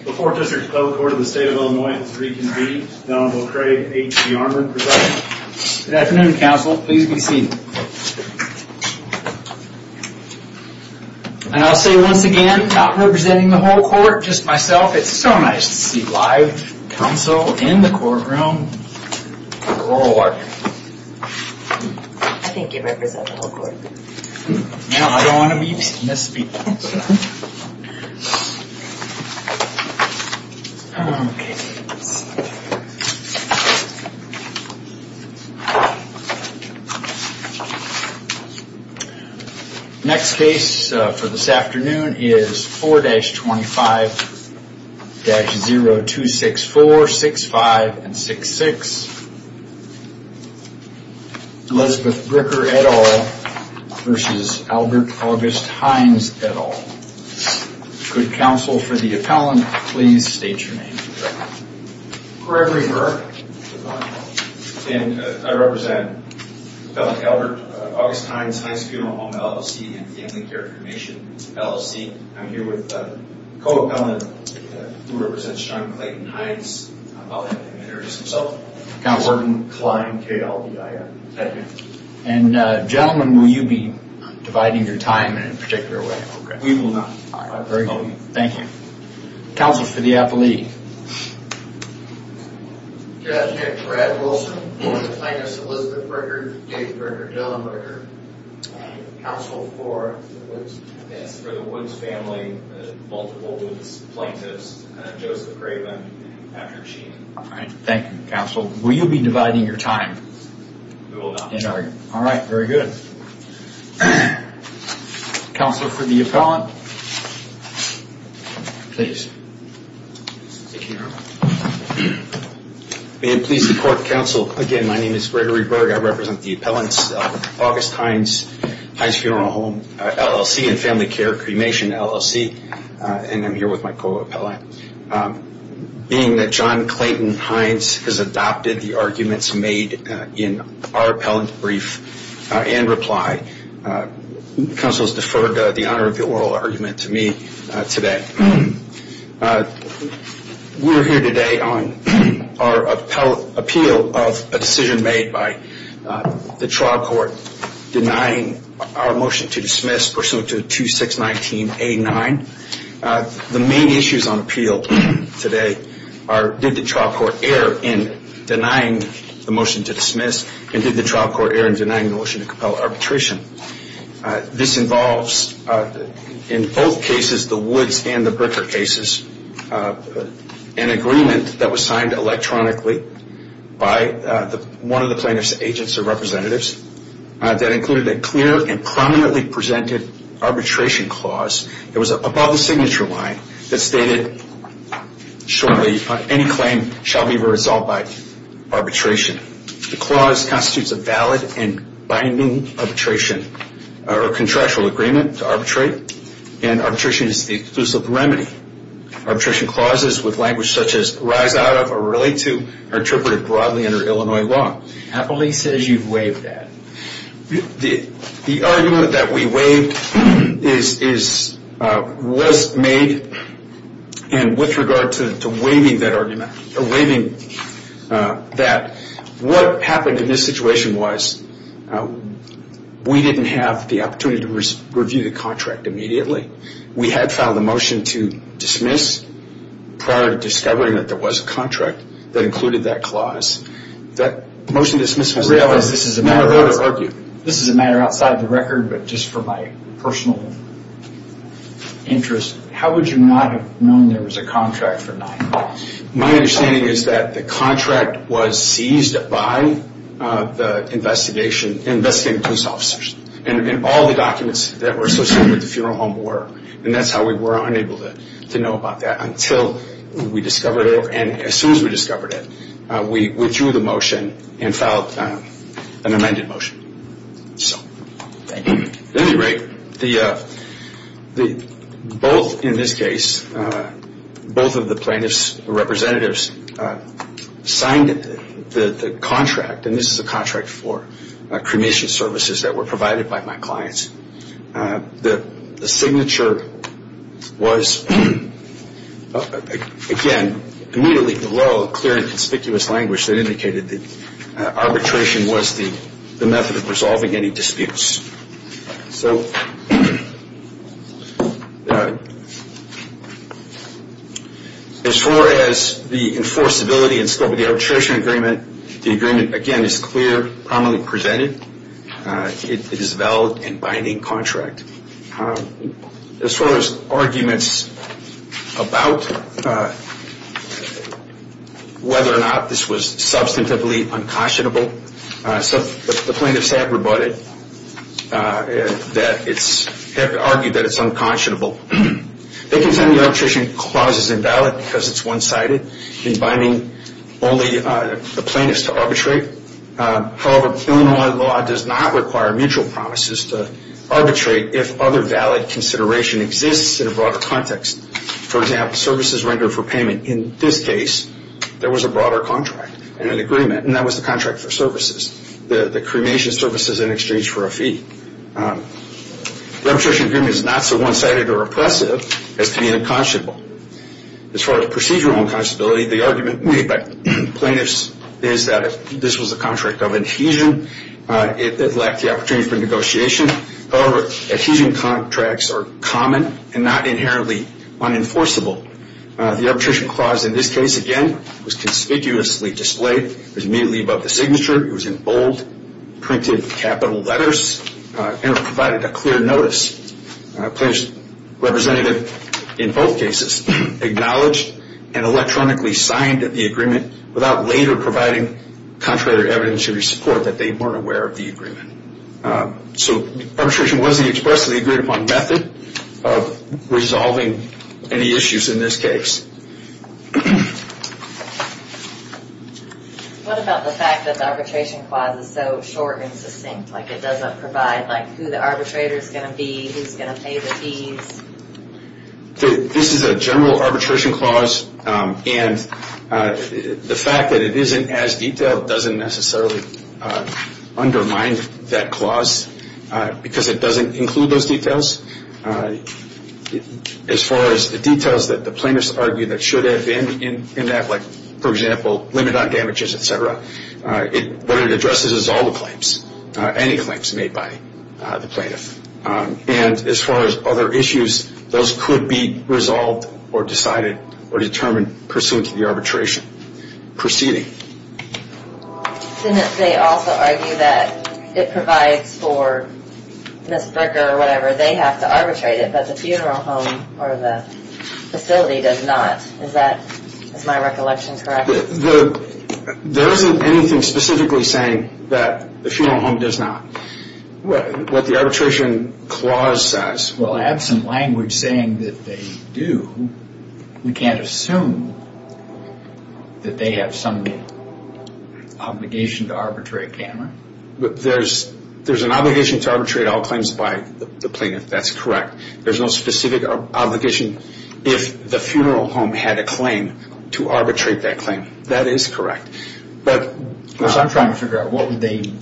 The 4th District Public Court of the State of Illinois is reconvened. Donald O'Craig, H.G. Armour, presiding. Good afternoon, counsel. Please be seated. And I'll say once again, not representing the whole court, just myself, it's so nice to see live counsel in the courtroom. We're all working. I think you represent the whole court. Now I don't want to be misspeaking. Okay. Next case for this afternoon is 4-25-0264, 65 and 66. Elizabeth Bricker et al. v. Albert August Heinz et al. Could counsel for the appellant please state your name. Gregory Bricker. And I represent Appellant Albert August Heinz, Heinz Funeral Home LLC and Family Care Commission LLC. I'm here with a co-appellant who represents John Clayton Heinz. I'll let him introduce himself. Count Wharton Klein, K-L-E-I-N. Thank you. And gentlemen, will you be dividing your time in a particular way? We will not. All right. Very good. Thank you. Counsel for the appellee. Brad Wilson, plaintiff's Elizabeth Bricker, David Bricker, Dylan Bricker. Counsel for the Woods family, multiple Woods plaintiffs, Joseph Craven, Patrick Sheen. All right. Thank you, counsel. Will you be dividing your time? We will not. All right. Very good. Counsel for the appellant. Please. May it please the court, counsel, again, my name is Gregory Bricker. I represent the appellants, August Heinz, Heinz Funeral Home LLC and Family Care Commission LLC. And I'm here with my co-appellant. Being that John Clayton Heinz has adopted the arguments made in our appellant brief and reply, counsel has deferred the honor of the oral argument to me today. We're here today on our appeal of a decision made by the trial court denying our motion to dismiss pursuant to 2619A9. The main issues on appeal today are did the trial court err in denying the motion to dismiss and did the trial court err in denying the motion to compel arbitration? This involves, in both cases, the Woods and the Bricker cases, an agreement that was signed electronically by one of the plaintiff's agents or representatives that included a clear and prominently presented arbitration clause. It was above the signature line that stated, surely, any claim shall be resolved by arbitration. The clause constitutes a valid and binding arbitration or contractual agreement to arbitrate and arbitration is the exclusive remedy. Arbitration clauses with language such as rise out of or relate to are interpreted broadly under Illinois law. Appellate says you've waived that. The argument that we waived was made and with regard to waiving that argument, waiving that, what happened in this situation was we didn't have the opportunity to review the contract immediately. We had filed a motion to dismiss prior to discovering that there was a contract that included that clause. That motion to dismiss was not a vote of argue. I realize this is a matter outside of the record, but just for my personal interest, how would you not have known there was a contract for 9-5? My understanding is that the contract was seized by the investigating police officers and all the documents that were associated with the funeral home were. That's how we were unable to know about that until we discovered it. As soon as we discovered it, we withdrew the motion and filed an amended motion. At any rate, both in this case, both of the plaintiffs' representatives signed the contract, and this is a contract for cremation services that were provided by my clients. The signature was, again, immediately below clear and conspicuous language that indicated that arbitration was the method of resolving any disputes. So as far as the enforceability and scope of the arbitration agreement, the agreement, again, is clear, prominently presented. It is a valid and binding contract. As far as arguments about whether or not this was substantively unconscionable, the plaintiffs have argued that it's unconscionable. They contend the arbitration clause is invalid because it's one-sided and binding only the plaintiffs to arbitrate. However, Illinois law does not require mutual promises to arbitrate if other valid consideration exists in a broader context. For example, services rendered for payment. In this case, there was a broader contract and an agreement, and that was the contract for services, the cremation services in exchange for a fee. The arbitration agreement is not so one-sided or oppressive as being unconscionable. As far as procedural unconscionability, the argument made by plaintiffs is that this was a contract of adhesion. It lacked the opportunity for negotiation. However, adhesion contracts are common and not inherently unenforceable. The arbitration clause in this case, again, was conspicuously displayed. It was immediately above the signature. It was in bold, printed capital letters, and it provided a clear notice. The plaintiff's representative, in both cases, acknowledged and electronically signed the agreement without later providing contrary evidence to the support that they weren't aware of the agreement. So arbitration was the expressly agreed-upon method of resolving any issues in this case. What about the fact that the arbitration clause is so short and succinct? Like it doesn't provide who the arbitrator is going to be, who's going to pay the fees? This is a general arbitration clause, and the fact that it isn't as detailed doesn't necessarily undermine that clause because it doesn't include those details. As far as the details that the plaintiffs argue that should have been in that, like, for example, limit on damages, et cetera, what it addresses is all the claims, any claims made by the plaintiff. And as far as other issues, those could be resolved or decided or determined pursuant to the arbitration proceeding. Didn't they also argue that it provides for Ms. Bricker or whatever, they have to arbitrate it, but the funeral home or the facility does not? Is that, is my recollection correct? There isn't anything specifically saying that the funeral home does not. What the arbitration clause says. Well, absent language saying that they do, we can't assume that they have some obligation to arbitrate, can we? There's an obligation to arbitrate all claims by the plaintiff. That's correct. There's no specific obligation if the funeral home had a claim to arbitrate that claim. That is correct. I'm trying to figure out what would they need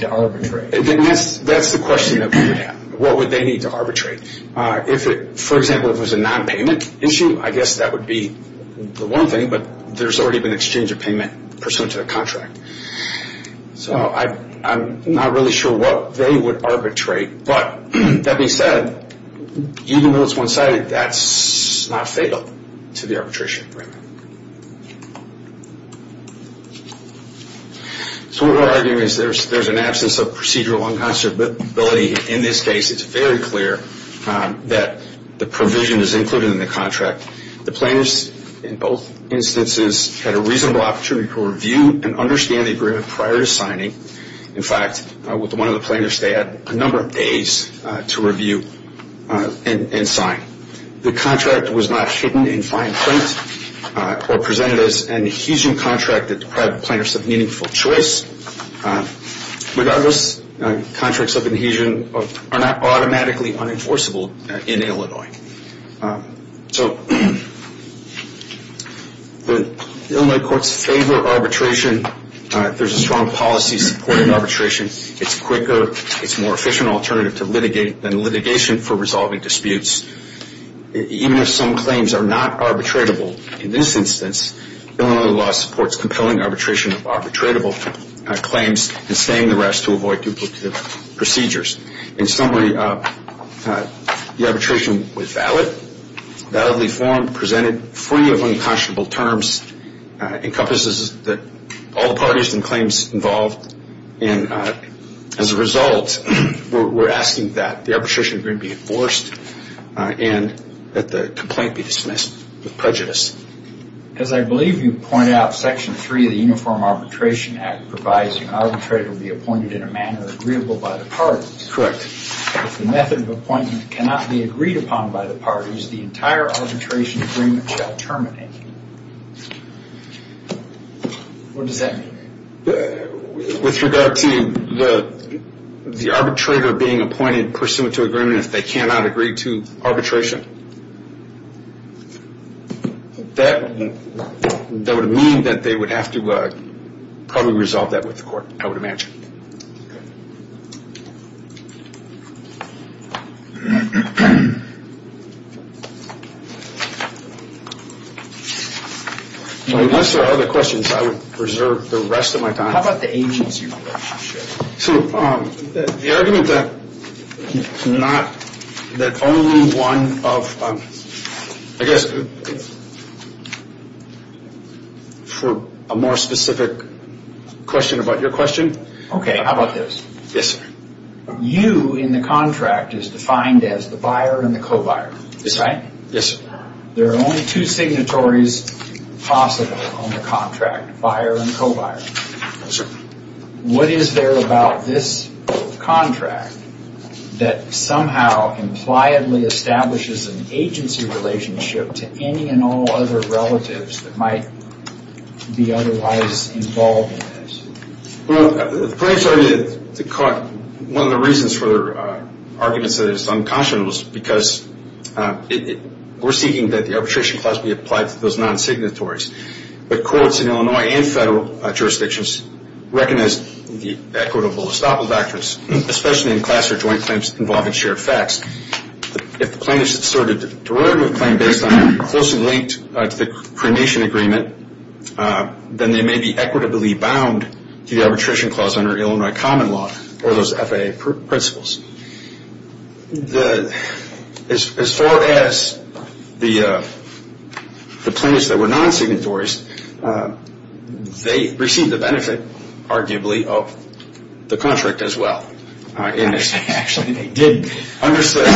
to arbitrate. That's the question. What would they need to arbitrate? For example, if it was a non-payment issue, I guess that would be the one thing, but there's already been exchange of payment pursuant to the contract. So I'm not really sure what they would arbitrate, but that being said, even though it's one-sided, that's not fatal to the arbitration agreement. So what we're arguing is there's an absence of procedural unconscionability. In this case, it's very clear that the provision is included in the contract. The plaintiffs, in both instances, had a reasonable opportunity to review and understand the agreement prior to signing. In fact, with one of the plaintiffs, they had a number of days to review and sign. The contract was not hidden in fine print or presented as an adhesion contract that deprived the plaintiffs of meaningful choice. Regardless, contracts of adhesion are not automatically unenforceable in Illinois. So the Illinois courts favor arbitration. There's a strong policy supporting arbitration. It's quicker. It's a more efficient alternative than litigation for resolving disputes. Even if some claims are not arbitratable in this instance, Illinois law supports compelling arbitration of arbitratable claims and staying the rest to avoid duplicative procedures. In summary, the arbitration was valid, validly formed, presented, free of unconscionable terms, encompasses all parties and claims involved. And as a result, we're asking that the arbitration agreement be enforced and that the complaint be dismissed with prejudice. As I believe you pointed out, Section 3 of the Uniform Arbitration Act provides an arbitrator will be appointed in a manner agreeable by the parties. Correct. If the method of appointment cannot be agreed upon by the parties, the entire arbitration agreement shall terminate. What does that mean? With regard to the arbitrator being appointed pursuant to agreement, if they cannot agree to arbitration, that would mean that they would have to probably resolve that with the court, I would imagine. Unless there are other questions, I will preserve the rest of my time. How about the agency relationship? So the argument that not that only one of, I guess, for a more specific question about your question, Okay, how about this? You in the contract is defined as the buyer and the co-buyer, is that right? Yes, sir. There are only two signatories possible on the contract, buyer and co-buyer. Yes, sir. What is there about this contract that somehow impliedly establishes an agency relationship to any and all other relatives that might be otherwise involved in this? Well, the plaintiff's argument caught one of the reasons for arguments that is unconscionable is because we're seeking that the arbitration clause be applied to those non-signatories. But courts in Illinois and federal jurisdictions recognize the equitable estoppel factors, especially in class or joint claims involving shared facts. If the plaintiff's asserted derivative claim based on closely linked to the cremation agreement, then they may be equitably bound to the arbitration clause under Illinois common law or those FAA principles. As far as the plaintiffs that were non-signatories, they received the benefit, arguably, of the contract as well. Actually, they did. Their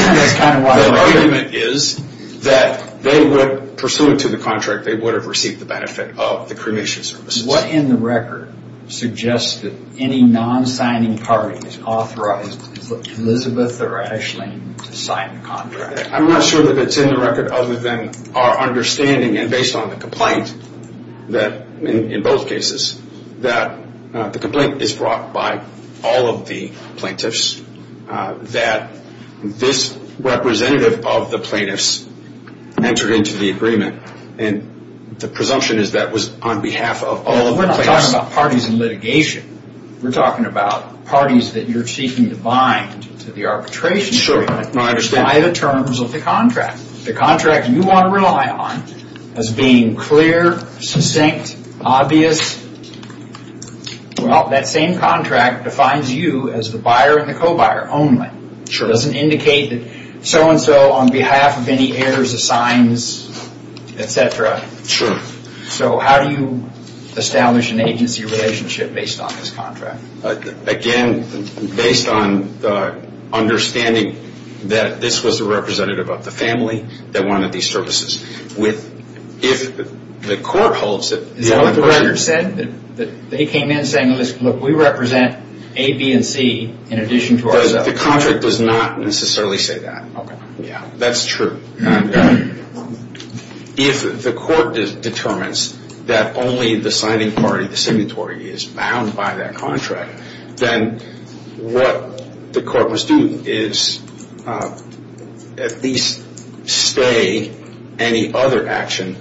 argument is that they would, pursuant to the contract, they would have received the benefit of the cremation services. What in the record suggests that any non-signing party is authorized to put Elizabeth or Aisling to sign the contract? I'm not sure that it's in the record other than our understanding, and based on the complaint, in both cases, that the complaint is brought by all of the plaintiffs, that this representative of the plaintiffs entered into the agreement, and the presumption is that was on behalf of all of the plaintiffs. We're not talking about parties in litigation. We're talking about parties that you're seeking to bind to the arbitration agreement by the terms of the contract. The contract you want to rely on as being clear, succinct, obvious, well, that same contract defines you as the buyer and the co-buyer only. It doesn't indicate that so-and-so on behalf of any heirs assigns, et cetera. How do you establish an agency relationship based on this contract? Again, based on understanding that this was a representative of the family that wanted these services. If the court holds that the other person... Is that what the record said? That they came in saying, look, we represent A, B, and C in addition to ourselves? The contract does not necessarily say that. That's true. If the court determines that only the signing party, the signatory, is bound by that contract, then what the court must do is at least stay any other action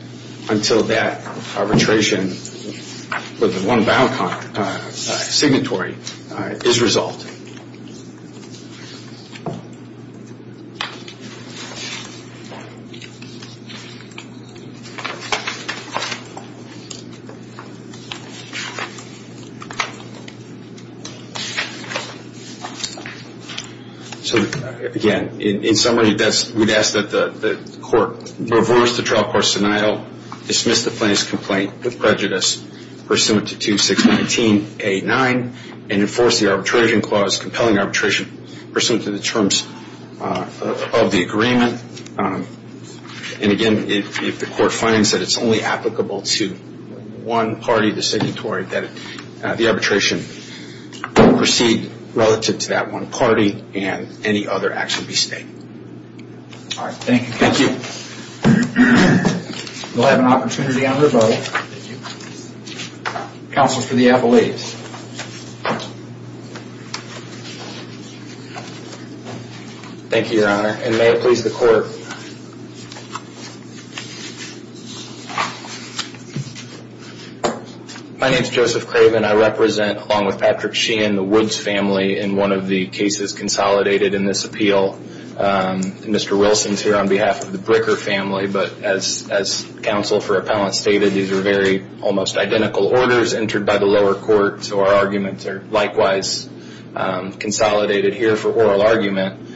until that arbitration with the one bound signatory is resolved. So, again, in summary, we'd ask that the court reverse the trial court's denial, dismiss the plaintiff's complaint with prejudice pursuant to 2619A9, and enforce the arbitration clause compelling arbitration pursuant to the terms of the agreement. And, again, if the court finds that it's only applicable to one party, the signatory, that the arbitration proceed relative to that one party and any other action be stayed. All right. Thank you. Thank you. We'll have an opportunity on revote. Counsel for the appellees. Thank you, Your Honor. And may it please the court. My name is Joseph Craven. I represent, along with Patrick Sheehan, the Woods family in one of the cases consolidated in this appeal. Mr. Wilson is here on behalf of the Bricker family, but as counsel for appellants stated, these are very almost identical orders entered by the lower court, so our arguments are likewise consolidated here for oral argument.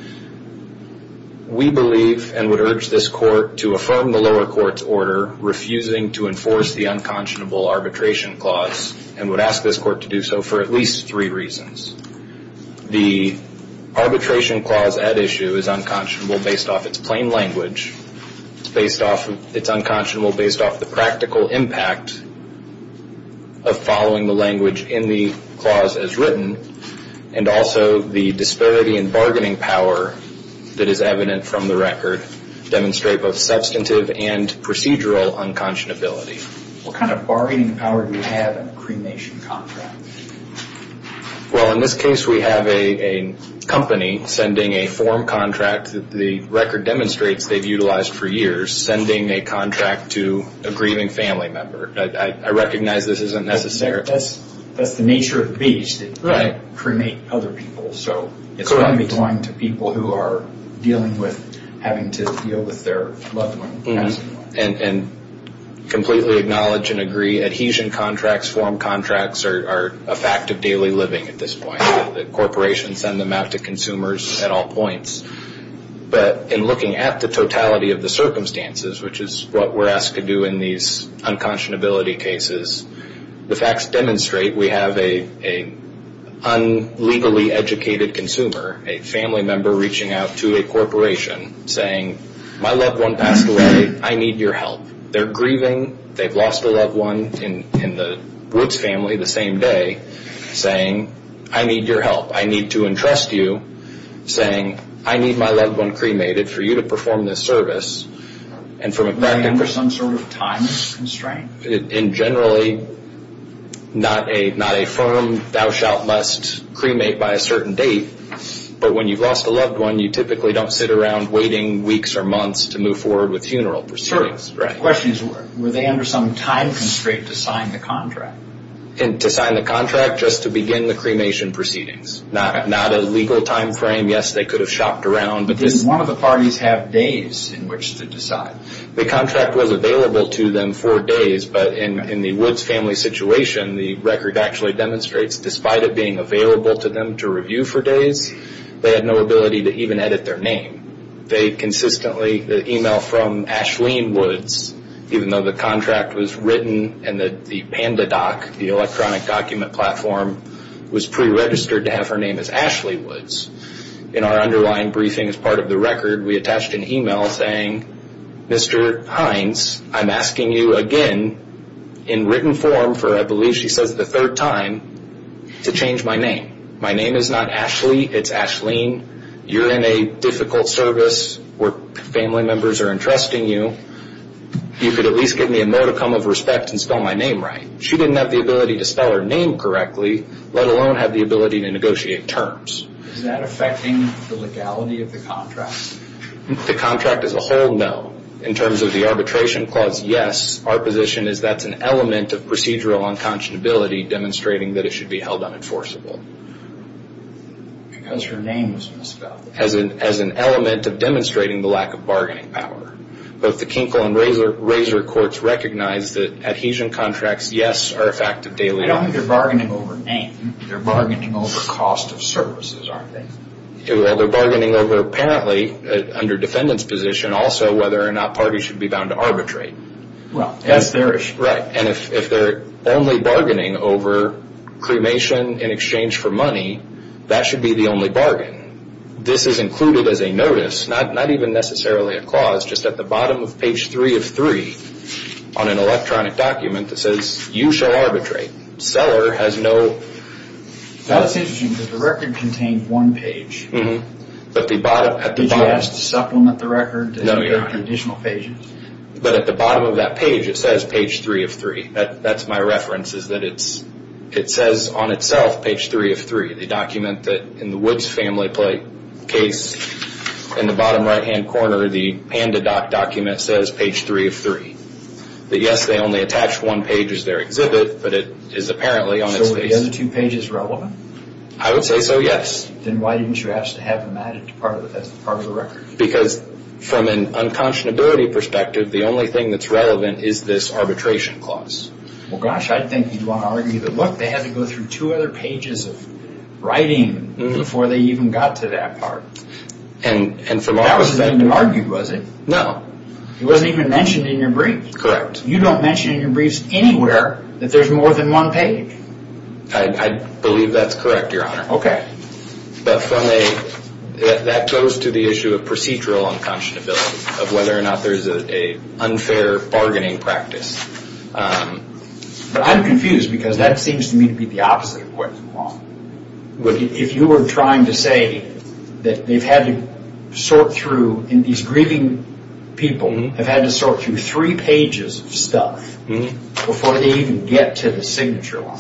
We believe and would urge this court to affirm the lower court's order refusing to enforce the unconscionable arbitration clause and would ask this court to do so for at least three reasons. The arbitration clause at issue is unconscionable based off its plain language, it's unconscionable based off the practical impact of following the language in the clause as written, and also the disparity in bargaining power that is evident from the record demonstrate both substantive and procedural unconscionability. What kind of bargaining power do you have in a cremation contract? Well, in this case, we have a company sending a form contract. The record demonstrates they've utilized for years, sending a contract to a grieving family member. I recognize this isn't necessary. That's the nature of the beach, to cremate other people, so it's going to be going to people who are dealing with having to deal with their loved ones. And completely acknowledge and agree adhesion contracts, form contracts, are a fact of daily living at this point. Corporations send them out to consumers at all points. But in looking at the totality of the circumstances, which is what we're asked to do in these unconscionability cases, the facts demonstrate we have an unlegally educated consumer, a family member reaching out to a corporation saying, my loved one passed away, I need your help. They're grieving, they've lost a loved one in the Woods family the same day, saying, I need your help. I need to entrust you, saying, I need my loved one cremated for you to perform this service. Were they under some sort of time constraint? Generally, not a firm, thou shalt must cremate by a certain date, but when you've lost a loved one, you typically don't sit around waiting weeks or months to move forward with funeral proceedings. The question is, were they under some time constraint to sign the contract? To sign the contract, just to begin the cremation proceedings. Not a legal time frame. Yes, they could have shopped around. Did one of the parties have days in which to decide? The contract was available to them for days, but in the Woods family situation, the record actually demonstrates, despite it being available to them to review for days, they had no ability to even edit their name. They consistently email from Ashleen Woods, even though the contract was written and the PandaDoc, the electronic document platform, was preregistered to have her name as Ashley Woods. In our underlying briefing, as part of the record, we attached an email saying, Mr. Hines, I'm asking you again, in written form for, I believe she says the third time, to change my name. My name is not Ashley, it's Ashleen. You're in a difficult service where family members are entrusting you. You could at least give me a modicum of respect and spell my name right. She didn't have the ability to spell her name correctly, let alone have the ability to negotiate terms. Is that affecting the legality of the contract? The contract as a whole, no. In terms of the arbitration clause, yes. Our position is that's an element of procedural unconscionability, demonstrating that it should be held unenforceable. Because her name was misspelled. As an element of demonstrating the lack of bargaining power. Both the Kinkle and Razor courts recognize that adhesion contracts, yes, are a fact of daily life. I don't think they're bargaining over name. They're bargaining over cost of services, aren't they? Well, they're bargaining over, apparently, under defendant's position, also whether or not parties should be bound to arbitrate. Well, that's their issue. Right. And if they're only bargaining over cremation in exchange for money, that should be the only bargain. This is included as a notice, not even necessarily a clause, just at the bottom of page 3 of 3 on an electronic document that says, you shall arbitrate. Seller has no... That's interesting because the record contained one page. But at the bottom... Did you ask to supplement the record? No, you're right. Additional pages? But at the bottom of that page, it says page 3 of 3. That's my reference, is that it says on itself page 3 of 3, the document that in the Woods family case, in the bottom right-hand corner, the Panda Doc document says page 3 of 3. But yes, they only attach one page as their exhibit, but it is apparently on its face. So are the other two pages relevant? I would say so, yes. Then why didn't you ask to have them added as part of the record? Because from an unconscionability perspective, the only thing that's relevant is this arbitration clause. Well, gosh, I'd think you'd want to argue that, look, they had to go through two other pages of writing before they even got to that part. That wasn't even argued, was it? No. It wasn't even mentioned in your brief. Correct. You don't mention in your briefs anywhere that there's more than one page. I believe that's correct, Your Honor. Okay. But that goes to the issue of procedural unconscionability, of whether or not there's an unfair bargaining practice. But I'm confused because that seems to me to be the opposite of what you want. If you were trying to say that they've had to sort through, and these grieving people have had to sort through three pages of stuff before they even get to the signature line,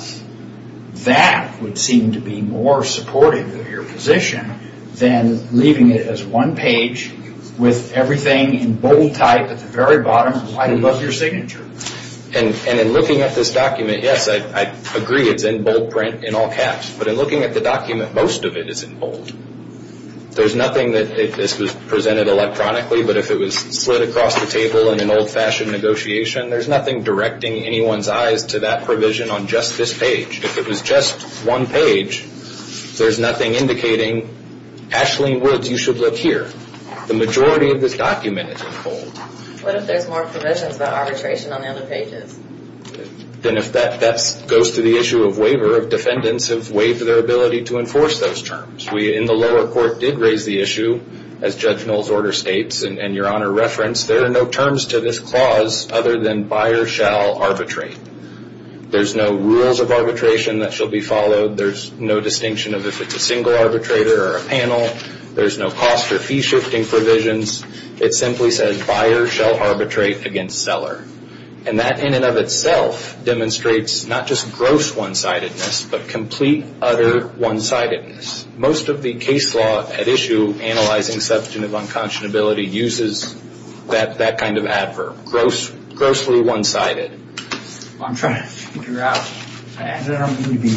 that would seem to be more supportive of your position than leaving it as one page with everything in bold type at the very bottom, right above your signature. And in looking at this document, yes, I agree it's in bold print in all caps. But in looking at the document, most of it is in bold. There's nothing that this was presented electronically, but if it was slid across the table in an old-fashioned negotiation, there's nothing directing anyone's eyes to that provision on just this page. If it was just one page, there's nothing indicating, Aisling Woods, you should look here. The majority of this document is in bold. What if there's more provisions about arbitration on the other pages? Then if that goes to the issue of waiver, defendants have waived their ability to enforce those terms. We in the lower court did raise the issue, as Judge Knoll's order states, and Your Honor referenced, there are no terms to this clause other than buyer shall arbitrate. There's no rules of arbitration that shall be followed. There's no distinction of if it's a single arbitrator or a panel. There's no cost or fee shifting provisions. It simply says buyer shall arbitrate against seller. And that in and of itself demonstrates not just gross one-sidedness, but complete utter one-sidedness. Most of the case law at issue analyzing substantive unconscionability uses that kind of adverb, grossly one-sided. Well, I'm trying to figure out. I don't want to be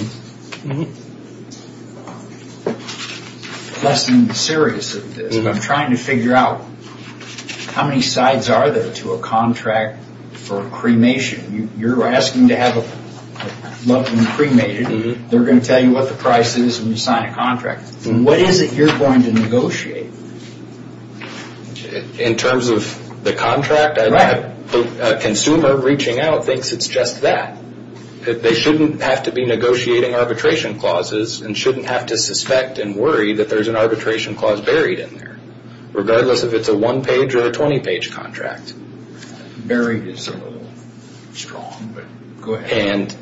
less than serious of this. I'm trying to figure out how many sides are there to a contract for cremation. You're asking to have a loved one cremated. They're going to tell you what the price is when you sign a contract. What is it you're going to negotiate? In terms of the contract? Right. A consumer reaching out thinks it's just that. They shouldn't have to be negotiating arbitration clauses and shouldn't have to suspect and worry that there's an arbitration clause buried in there, regardless if it's a one-page or a 20-page contract. Buried is a little strong, but go ahead.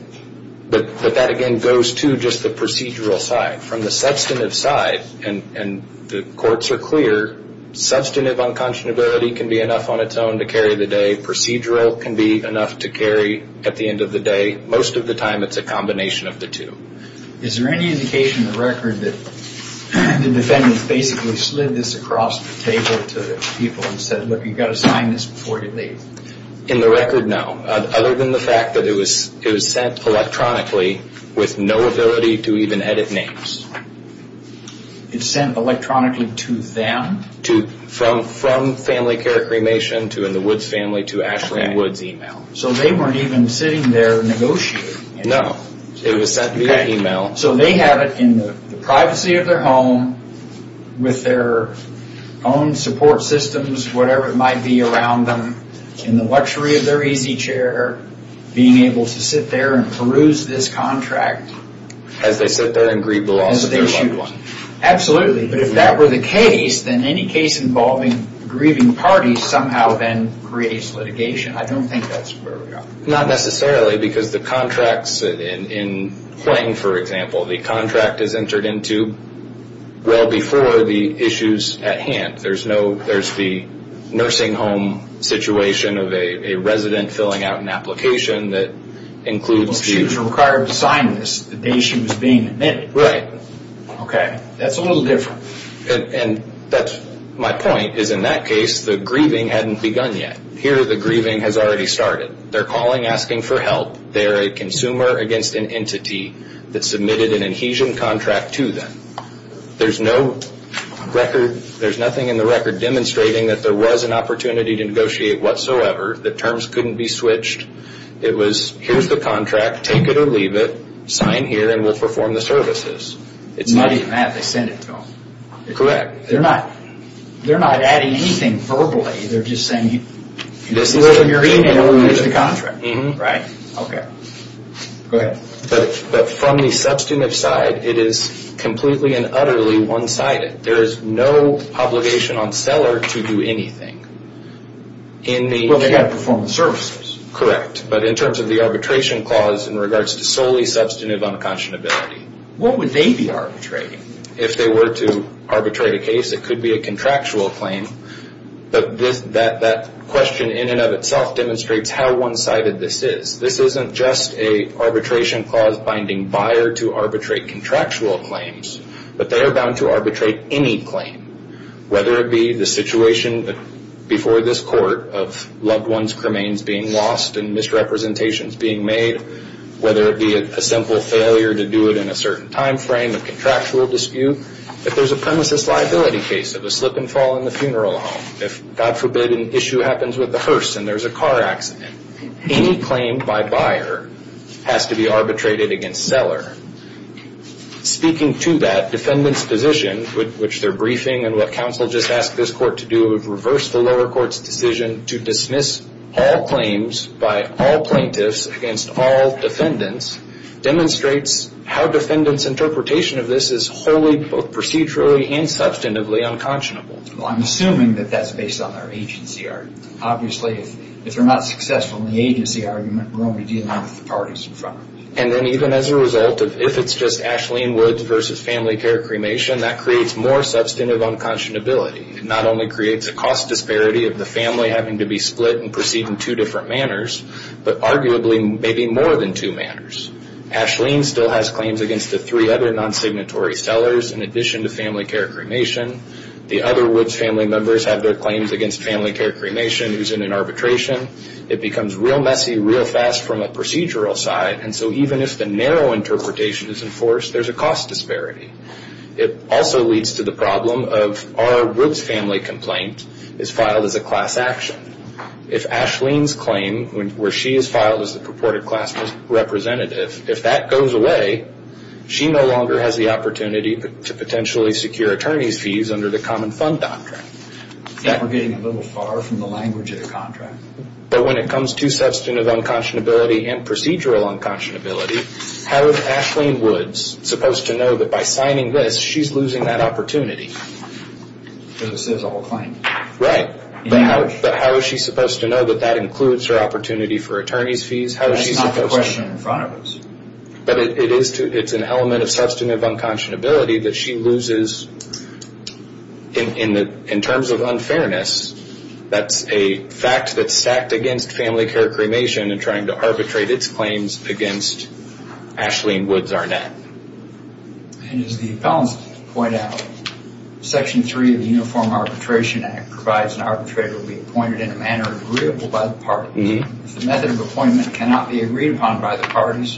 But that, again, goes to just the procedural side. From the substantive side, and the courts are clear, substantive unconscionability can be enough on its own to carry the day. Procedural can be enough to carry at the end of the day. Most of the time it's a combination of the two. Is there any indication in the record that the defendant basically slid this across the table to people and said, look, you've got to sign this before you leave? In the record, no. Other than the fact that it was sent electronically with no ability to even edit names. It's sent electronically to them? From Family Care Cremation, to in the Woods family, to Ashley and Woods email. So they weren't even sitting there negotiating. No. It was sent via email. So they have it in the privacy of their home, with their own support systems, whatever it might be around them, in the luxury of their easy chair, being able to sit there and peruse this contract. As they sit there and grieve the loss of their loved one. Absolutely. But if that were the case, then any case involving grieving parties somehow then creates litigation. I don't think that's where we are. Not necessarily, because the contracts in Hwang, for example, the contract is entered into well before the issues at hand. There's the nursing home situation of a resident filling out an application that includes... Well, she was required to sign this the day she was being admitted. Right. Okay. That's a little different. My point is, in that case, the grieving hadn't begun yet. Here, the grieving has already started. They're calling, asking for help. They're a consumer against an entity that submitted an adhesion contract to them. There's nothing in the record demonstrating that there was an opportunity to negotiate whatsoever. The terms couldn't be switched. It was, here's the contract, take it or leave it, sign here, and we'll perform the services. It's not even that they sent it to them. Correct. They're not adding anything verbally. They're just saying, here's the contract. Right. Okay. Go ahead. But from the substantive side, it is completely and utterly one-sided. There is no obligation on seller to do anything. Well, they've got to perform the services. Correct, but in terms of the arbitration clause in regards to solely substantive unconscionability. What would they be arbitrating? If they were to arbitrate a case, it could be a contractual claim, but that question in and of itself demonstrates how one-sided this is. This isn't just an arbitration clause binding buyer to arbitrate contractual claims, but they are bound to arbitrate any claim, whether it be the situation before this court of loved ones' cremains being lost and misrepresentations being made, whether it be a simple failure to do it in a certain time frame, a contractual dispute. If there's a premises liability case of a slip and fall in the funeral home, if, God forbid, an issue happens with the hearse and there's a car accident, any claim by buyer has to be arbitrated against seller. Speaking to that, defendant's position, which they're briefing and what counsel just asked this court to do is reverse the lower court's decision to dismiss all claims by all plaintiffs against all defendants, demonstrates how defendant's interpretation of this is wholly both procedurally and substantively unconscionable. Well, I'm assuming that that's based on their agency art. Obviously, if they're not successful in the agency argument, we're only dealing with the parties in front of us. And then even as a result of if it's just Ashleen Woods versus family care cremation, that creates more substantive unconscionability. It not only creates a cost disparity of the family having to be split and proceed in two different manners, but arguably maybe more than two manners. Ashleen still has claims against the three other non-signatory sellers in addition to family care cremation. The other Woods family members have their claims against family care cremation who's in an arbitration. It becomes real messy, real fast from a procedural side. And so even if the narrow interpretation is enforced, there's a cost disparity. It also leads to the problem of our Woods family complaint is filed as a class action. If Ashleen's claim where she is filed as the purported class representative, if that goes away, she no longer has the opportunity to potentially secure attorney's fees under the common fund doctrine. We're getting a little far from the language of the contract. But when it comes to substantive unconscionability and procedural unconscionability, how is Ashleen Woods supposed to know that by signing this, she's losing that opportunity? Because this is all a claim. Right. But how is she supposed to know that that includes her opportunity for attorney's fees? That's not the question in front of us. But it's an element of substantive unconscionability that she loses in terms of unfairness. That's a fact that's sacked against family care cremation and trying to arbitrate its claims against Ashleen Woods Arnett. And as the appellants point out, Section 3 of the Uniform Arbitration Act provides an arbitrator to be appointed in a manner agreeable by the parties. If the method of appointment cannot be agreed upon by the parties,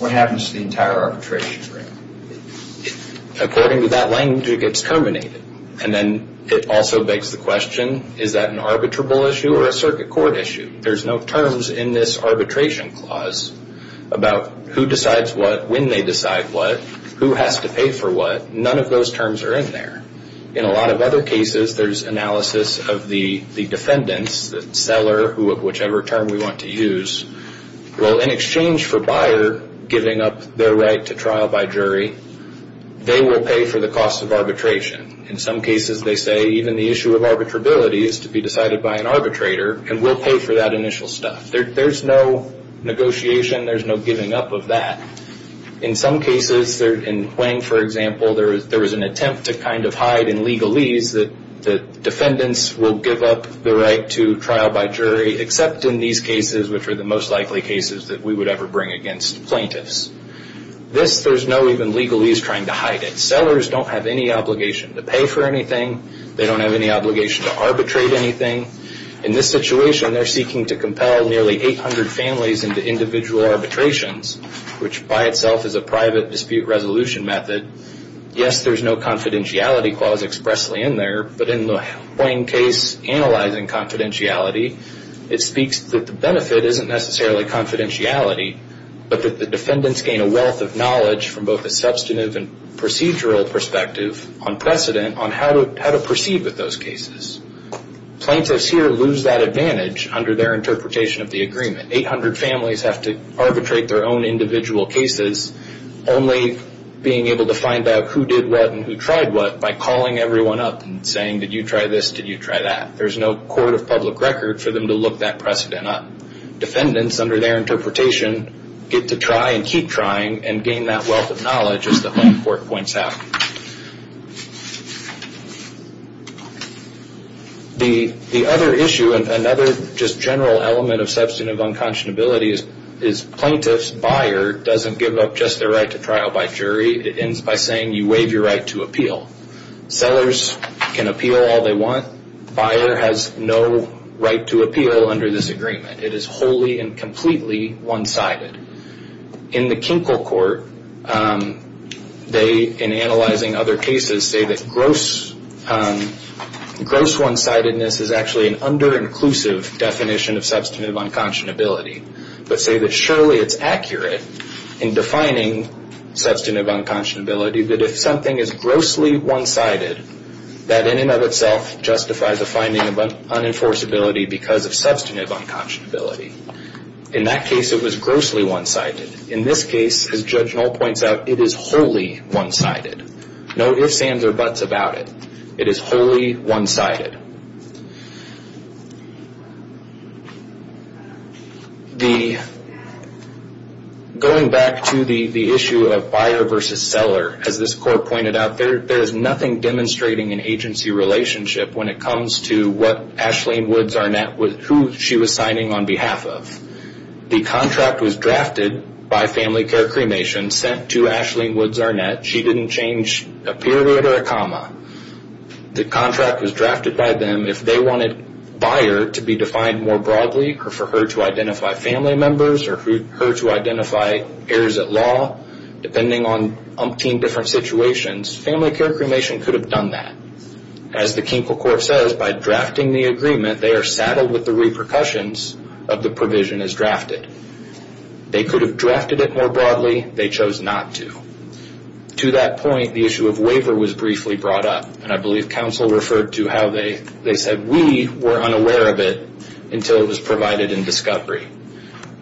what happens to the entire arbitration frame? According to that language, it gets terminated. And then it also begs the question, is that an arbitrable issue or a circuit court issue? There's no terms in this arbitration clause about who decides what, when they decide what, who has to pay for what. None of those terms are in there. In a lot of other cases, there's analysis of the defendants, the seller, whichever term we want to use. Well, in exchange for buyer giving up their right to trial by jury, they will pay for the cost of arbitration. In some cases, they say even the issue of arbitrability is to be decided by an arbitrator and will pay for that initial stuff. There's no negotiation. There's no giving up of that. In some cases, in Hwang, for example, there was an attempt to kind of hide in legalese that defendants will give up the right to trial by jury, except in these cases, which are the most likely cases that we would ever bring against plaintiffs. This, there's no even legalese trying to hide it. Sellers don't have any obligation to pay for anything. They don't have any obligation to arbitrate anything. In this situation, they're seeking to compel nearly 800 families into individual arbitrations, which by itself is a private dispute resolution method. Yes, there's no confidentiality clause expressly in there, but in the Hwang case analyzing confidentiality, it speaks that the benefit isn't necessarily confidentiality, but that the defendants gain a wealth of knowledge from both a substantive and procedural perspective on precedent on how to proceed with those cases. Plaintiffs here lose that advantage under their interpretation of the agreement. 800 families have to arbitrate their own individual cases, only being able to find out who did what and who tried what by calling everyone up and saying, did you try this, did you try that. There's no court of public record for them to look that precedent up. Defendants, under their interpretation, get to try and keep trying and gain that wealth of knowledge as the Hwang court points out. The other issue and another just general element of substantive unconscionability is plaintiff's buyer doesn't give up just their right to trial by jury. It ends by saying you waive your right to appeal. Sellers can appeal all they want. Buyer has no right to appeal under this agreement. It is wholly and completely one-sided. In the Kinkel court, they, in analyzing other cases, say that gross one-sidedness is actually an under-inclusive definition of substantive unconscionability, but say that surely it's accurate in defining substantive unconscionability that if something is grossly one-sided, that in and of itself justifies a finding of unenforceability because of substantive unconscionability. In that case, it was grossly one-sided. In this case, as Judge Knoll points out, it is wholly one-sided. No ifs, ands, or buts about it. It is wholly one-sided. Going back to the issue of buyer versus seller, as this court pointed out, there is nothing demonstrating an agency relationship when it comes to what Ashlene Wood Zarnett, who she was signing on behalf of. The contract was drafted by Family Care Cremation, sent to Ashlene Wood Zarnett. She didn't change a period or a comma. The contract was drafted by them. If they wanted buyer to be defined more broadly, or for her to identify family members, or for her to identify heirs at law, depending on umpteen different situations, Family Care Cremation could have done that. As the Kinkel Court says, by drafting the agreement, they are saddled with the repercussions of the provision as drafted. They could have drafted it more broadly. They chose not to. To that point, the issue of waiver was briefly brought up. I believe counsel referred to how they said, we were unaware of it until it was provided in discovery.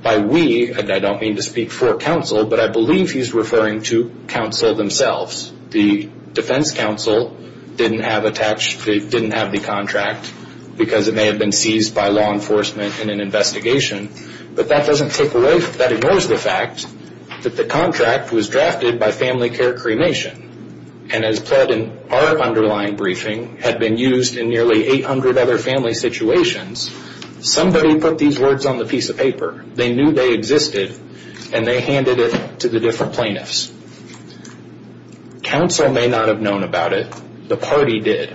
By we, I don't mean to speak for counsel, but I believe he's referring to counsel themselves. The defense counsel didn't have the contract, because it may have been seized by law enforcement in an investigation, but that doesn't take away, that ignores the fact, that the contract was drafted by Family Care Cremation. As pled in our underlying briefing, had been used in nearly 800 other family situations, somebody put these words on the piece of paper. They knew they existed, and they handed it to the different plaintiffs. Counsel may not have known about it, the party did.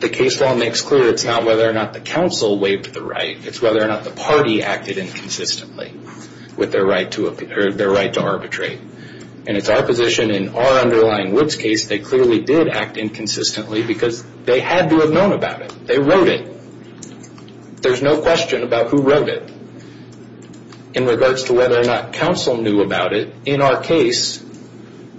The case law makes clear, it's not whether or not the counsel waived the right, it's whether or not the party acted inconsistently, with their right to arbitrate. It's our position, in our underlying Woods case, they clearly did act inconsistently, because they had to have known about it. They wrote it. There's no question about who wrote it, in regards to whether or not counsel knew about it. In our case,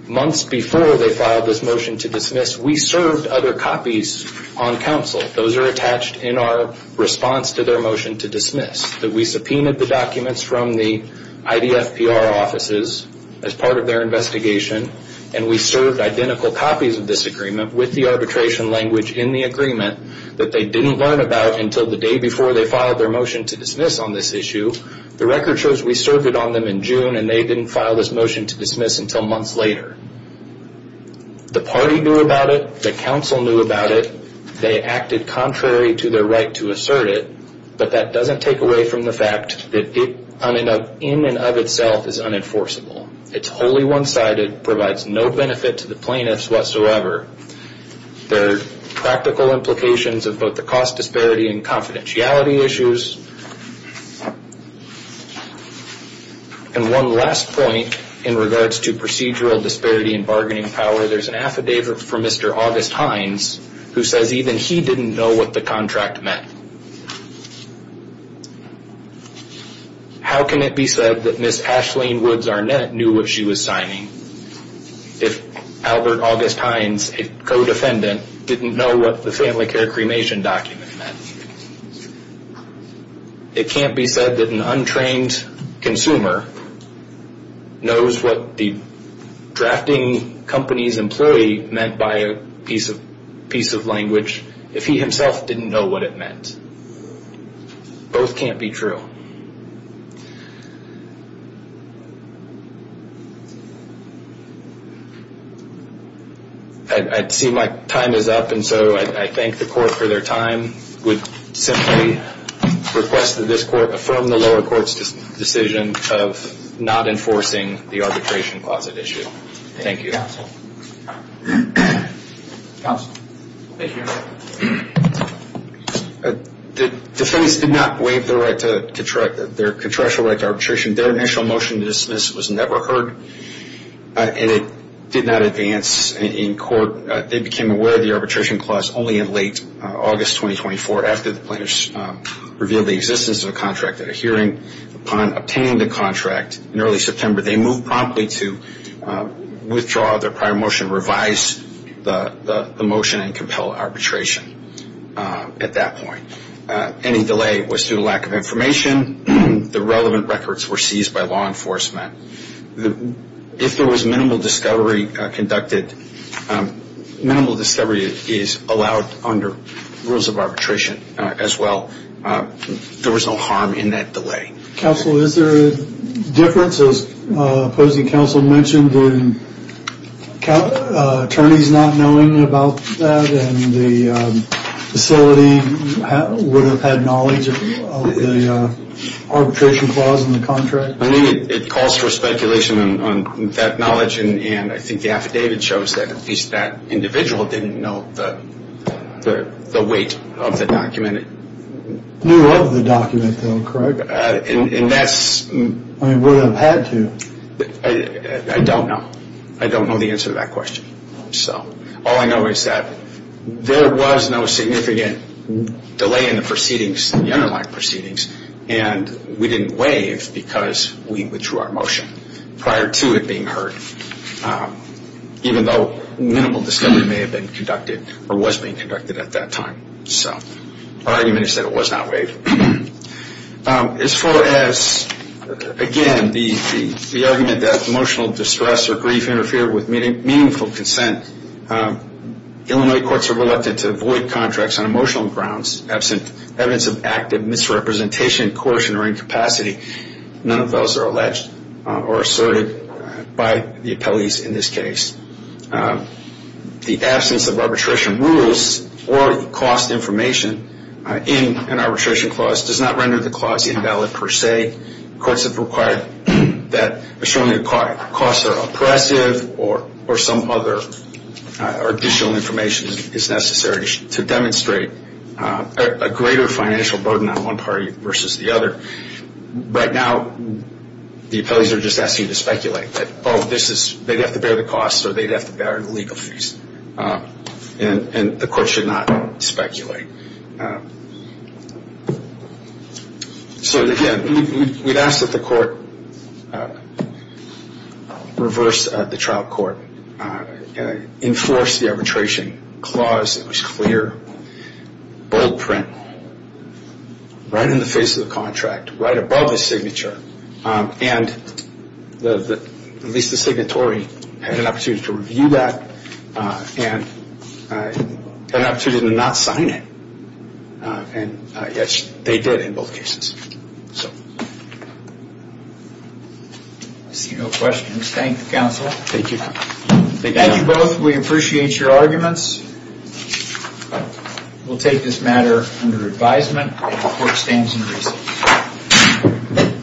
months before they filed this motion to dismiss, we served other copies on counsel. Those are attached in our response to their motion to dismiss. We subpoenaed the documents from the IDF PR offices, as part of their investigation, and we served identical copies of this agreement, with the arbitration language in the agreement, that they didn't learn about until the day before they filed their motion to dismiss on this issue. The record shows we served it on them in June, and they didn't file this motion to dismiss until months later. The party knew about it, the counsel knew about it, they acted contrary to their right to assert it, but that doesn't take away from the fact that it, in and of itself, is unenforceable. It's wholly one-sided, provides no benefit to the plaintiffs whatsoever. There are practical implications of both the cost disparity and confidentiality issues. And one last point, in regards to procedural disparity in bargaining power, there's an affidavit from Mr. August Hines, who says even he didn't know what the contract meant. How can it be said that Ms. Ashlene Woods-Arnett knew what she was signing? If Albert August Hines, a co-defendant, didn't know what the family care cremation document meant? It can't be said that an untrained consumer knows what the drafting company's employee meant by a piece of language if he himself didn't know what it meant. Both can't be true. I see my time is up, and so I thank the court for their time. I would simply request that this court affirm the lower court's decision of not enforcing the arbitration closet issue. Thank you. The defendants did not waive their right to, their contractual right to arbitration. Their initial motion to dismiss was never heard. And it did not advance in court. They became aware of the arbitration clause only in late August 2024, after the plaintiffs revealed the existence of a contract at a hearing. Upon obtaining the contract in early September, they moved promptly to withdraw their prior motion, revise the motion, and compel arbitration at that point. Any delay was due to lack of information. The relevant records were seized by law enforcement. If there was minimal discovery conducted, minimal discovery is allowed under rules of arbitration as well. There was no harm in that delay. Counsel, is there a difference, as opposing counsel mentioned, in attorneys not knowing about that and the facility would have had knowledge of the arbitration clause in the contract? I mean, it calls for speculation on that knowledge, and I think the affidavit shows that at least that individual didn't know the weight of the document. Knew of the document, though, correct? And that's... I mean, would have had to. I don't know. I don't know the answer to that question. So all I know is that there was no significant delay in the proceedings, the underlying proceedings, and we didn't waive because we withdrew our motion prior to it being heard, even though minimal discovery may have been conducted or was being conducted at that time. So our argument is that it was not waived. As far as, again, the argument that emotional distress or grief interfered with meaningful consent, Illinois courts are reluctant to avoid contracts on emotional grounds as evidence of active misrepresentation, caution, or incapacity. None of those are alleged or asserted by the appellees in this case. The absence of arbitration rules or cost information in an arbitration clause does not render the clause invalid per se. Courts have required that, assuming the costs are oppressive or some other additional information is necessary to demonstrate a greater financial burden on one party versus the other. Right now, the appellees are just asking to speculate that, oh, they'd have to bear the costs or they'd have to bear the legal fees, and the court should not speculate. So, again, we'd ask that the court reverse the trial court, enforce the arbitration clause that was clear, bold print, right in the face of the contract, right above the signature, and at least the signatory had an opportunity to review that and had an opportunity to not sign it. And, yes, they did in both cases. So, I see no questions. Thank you, counsel. Thank you. Thank you both. We appreciate your arguments. We'll take this matter under advisement. The court stands in reason.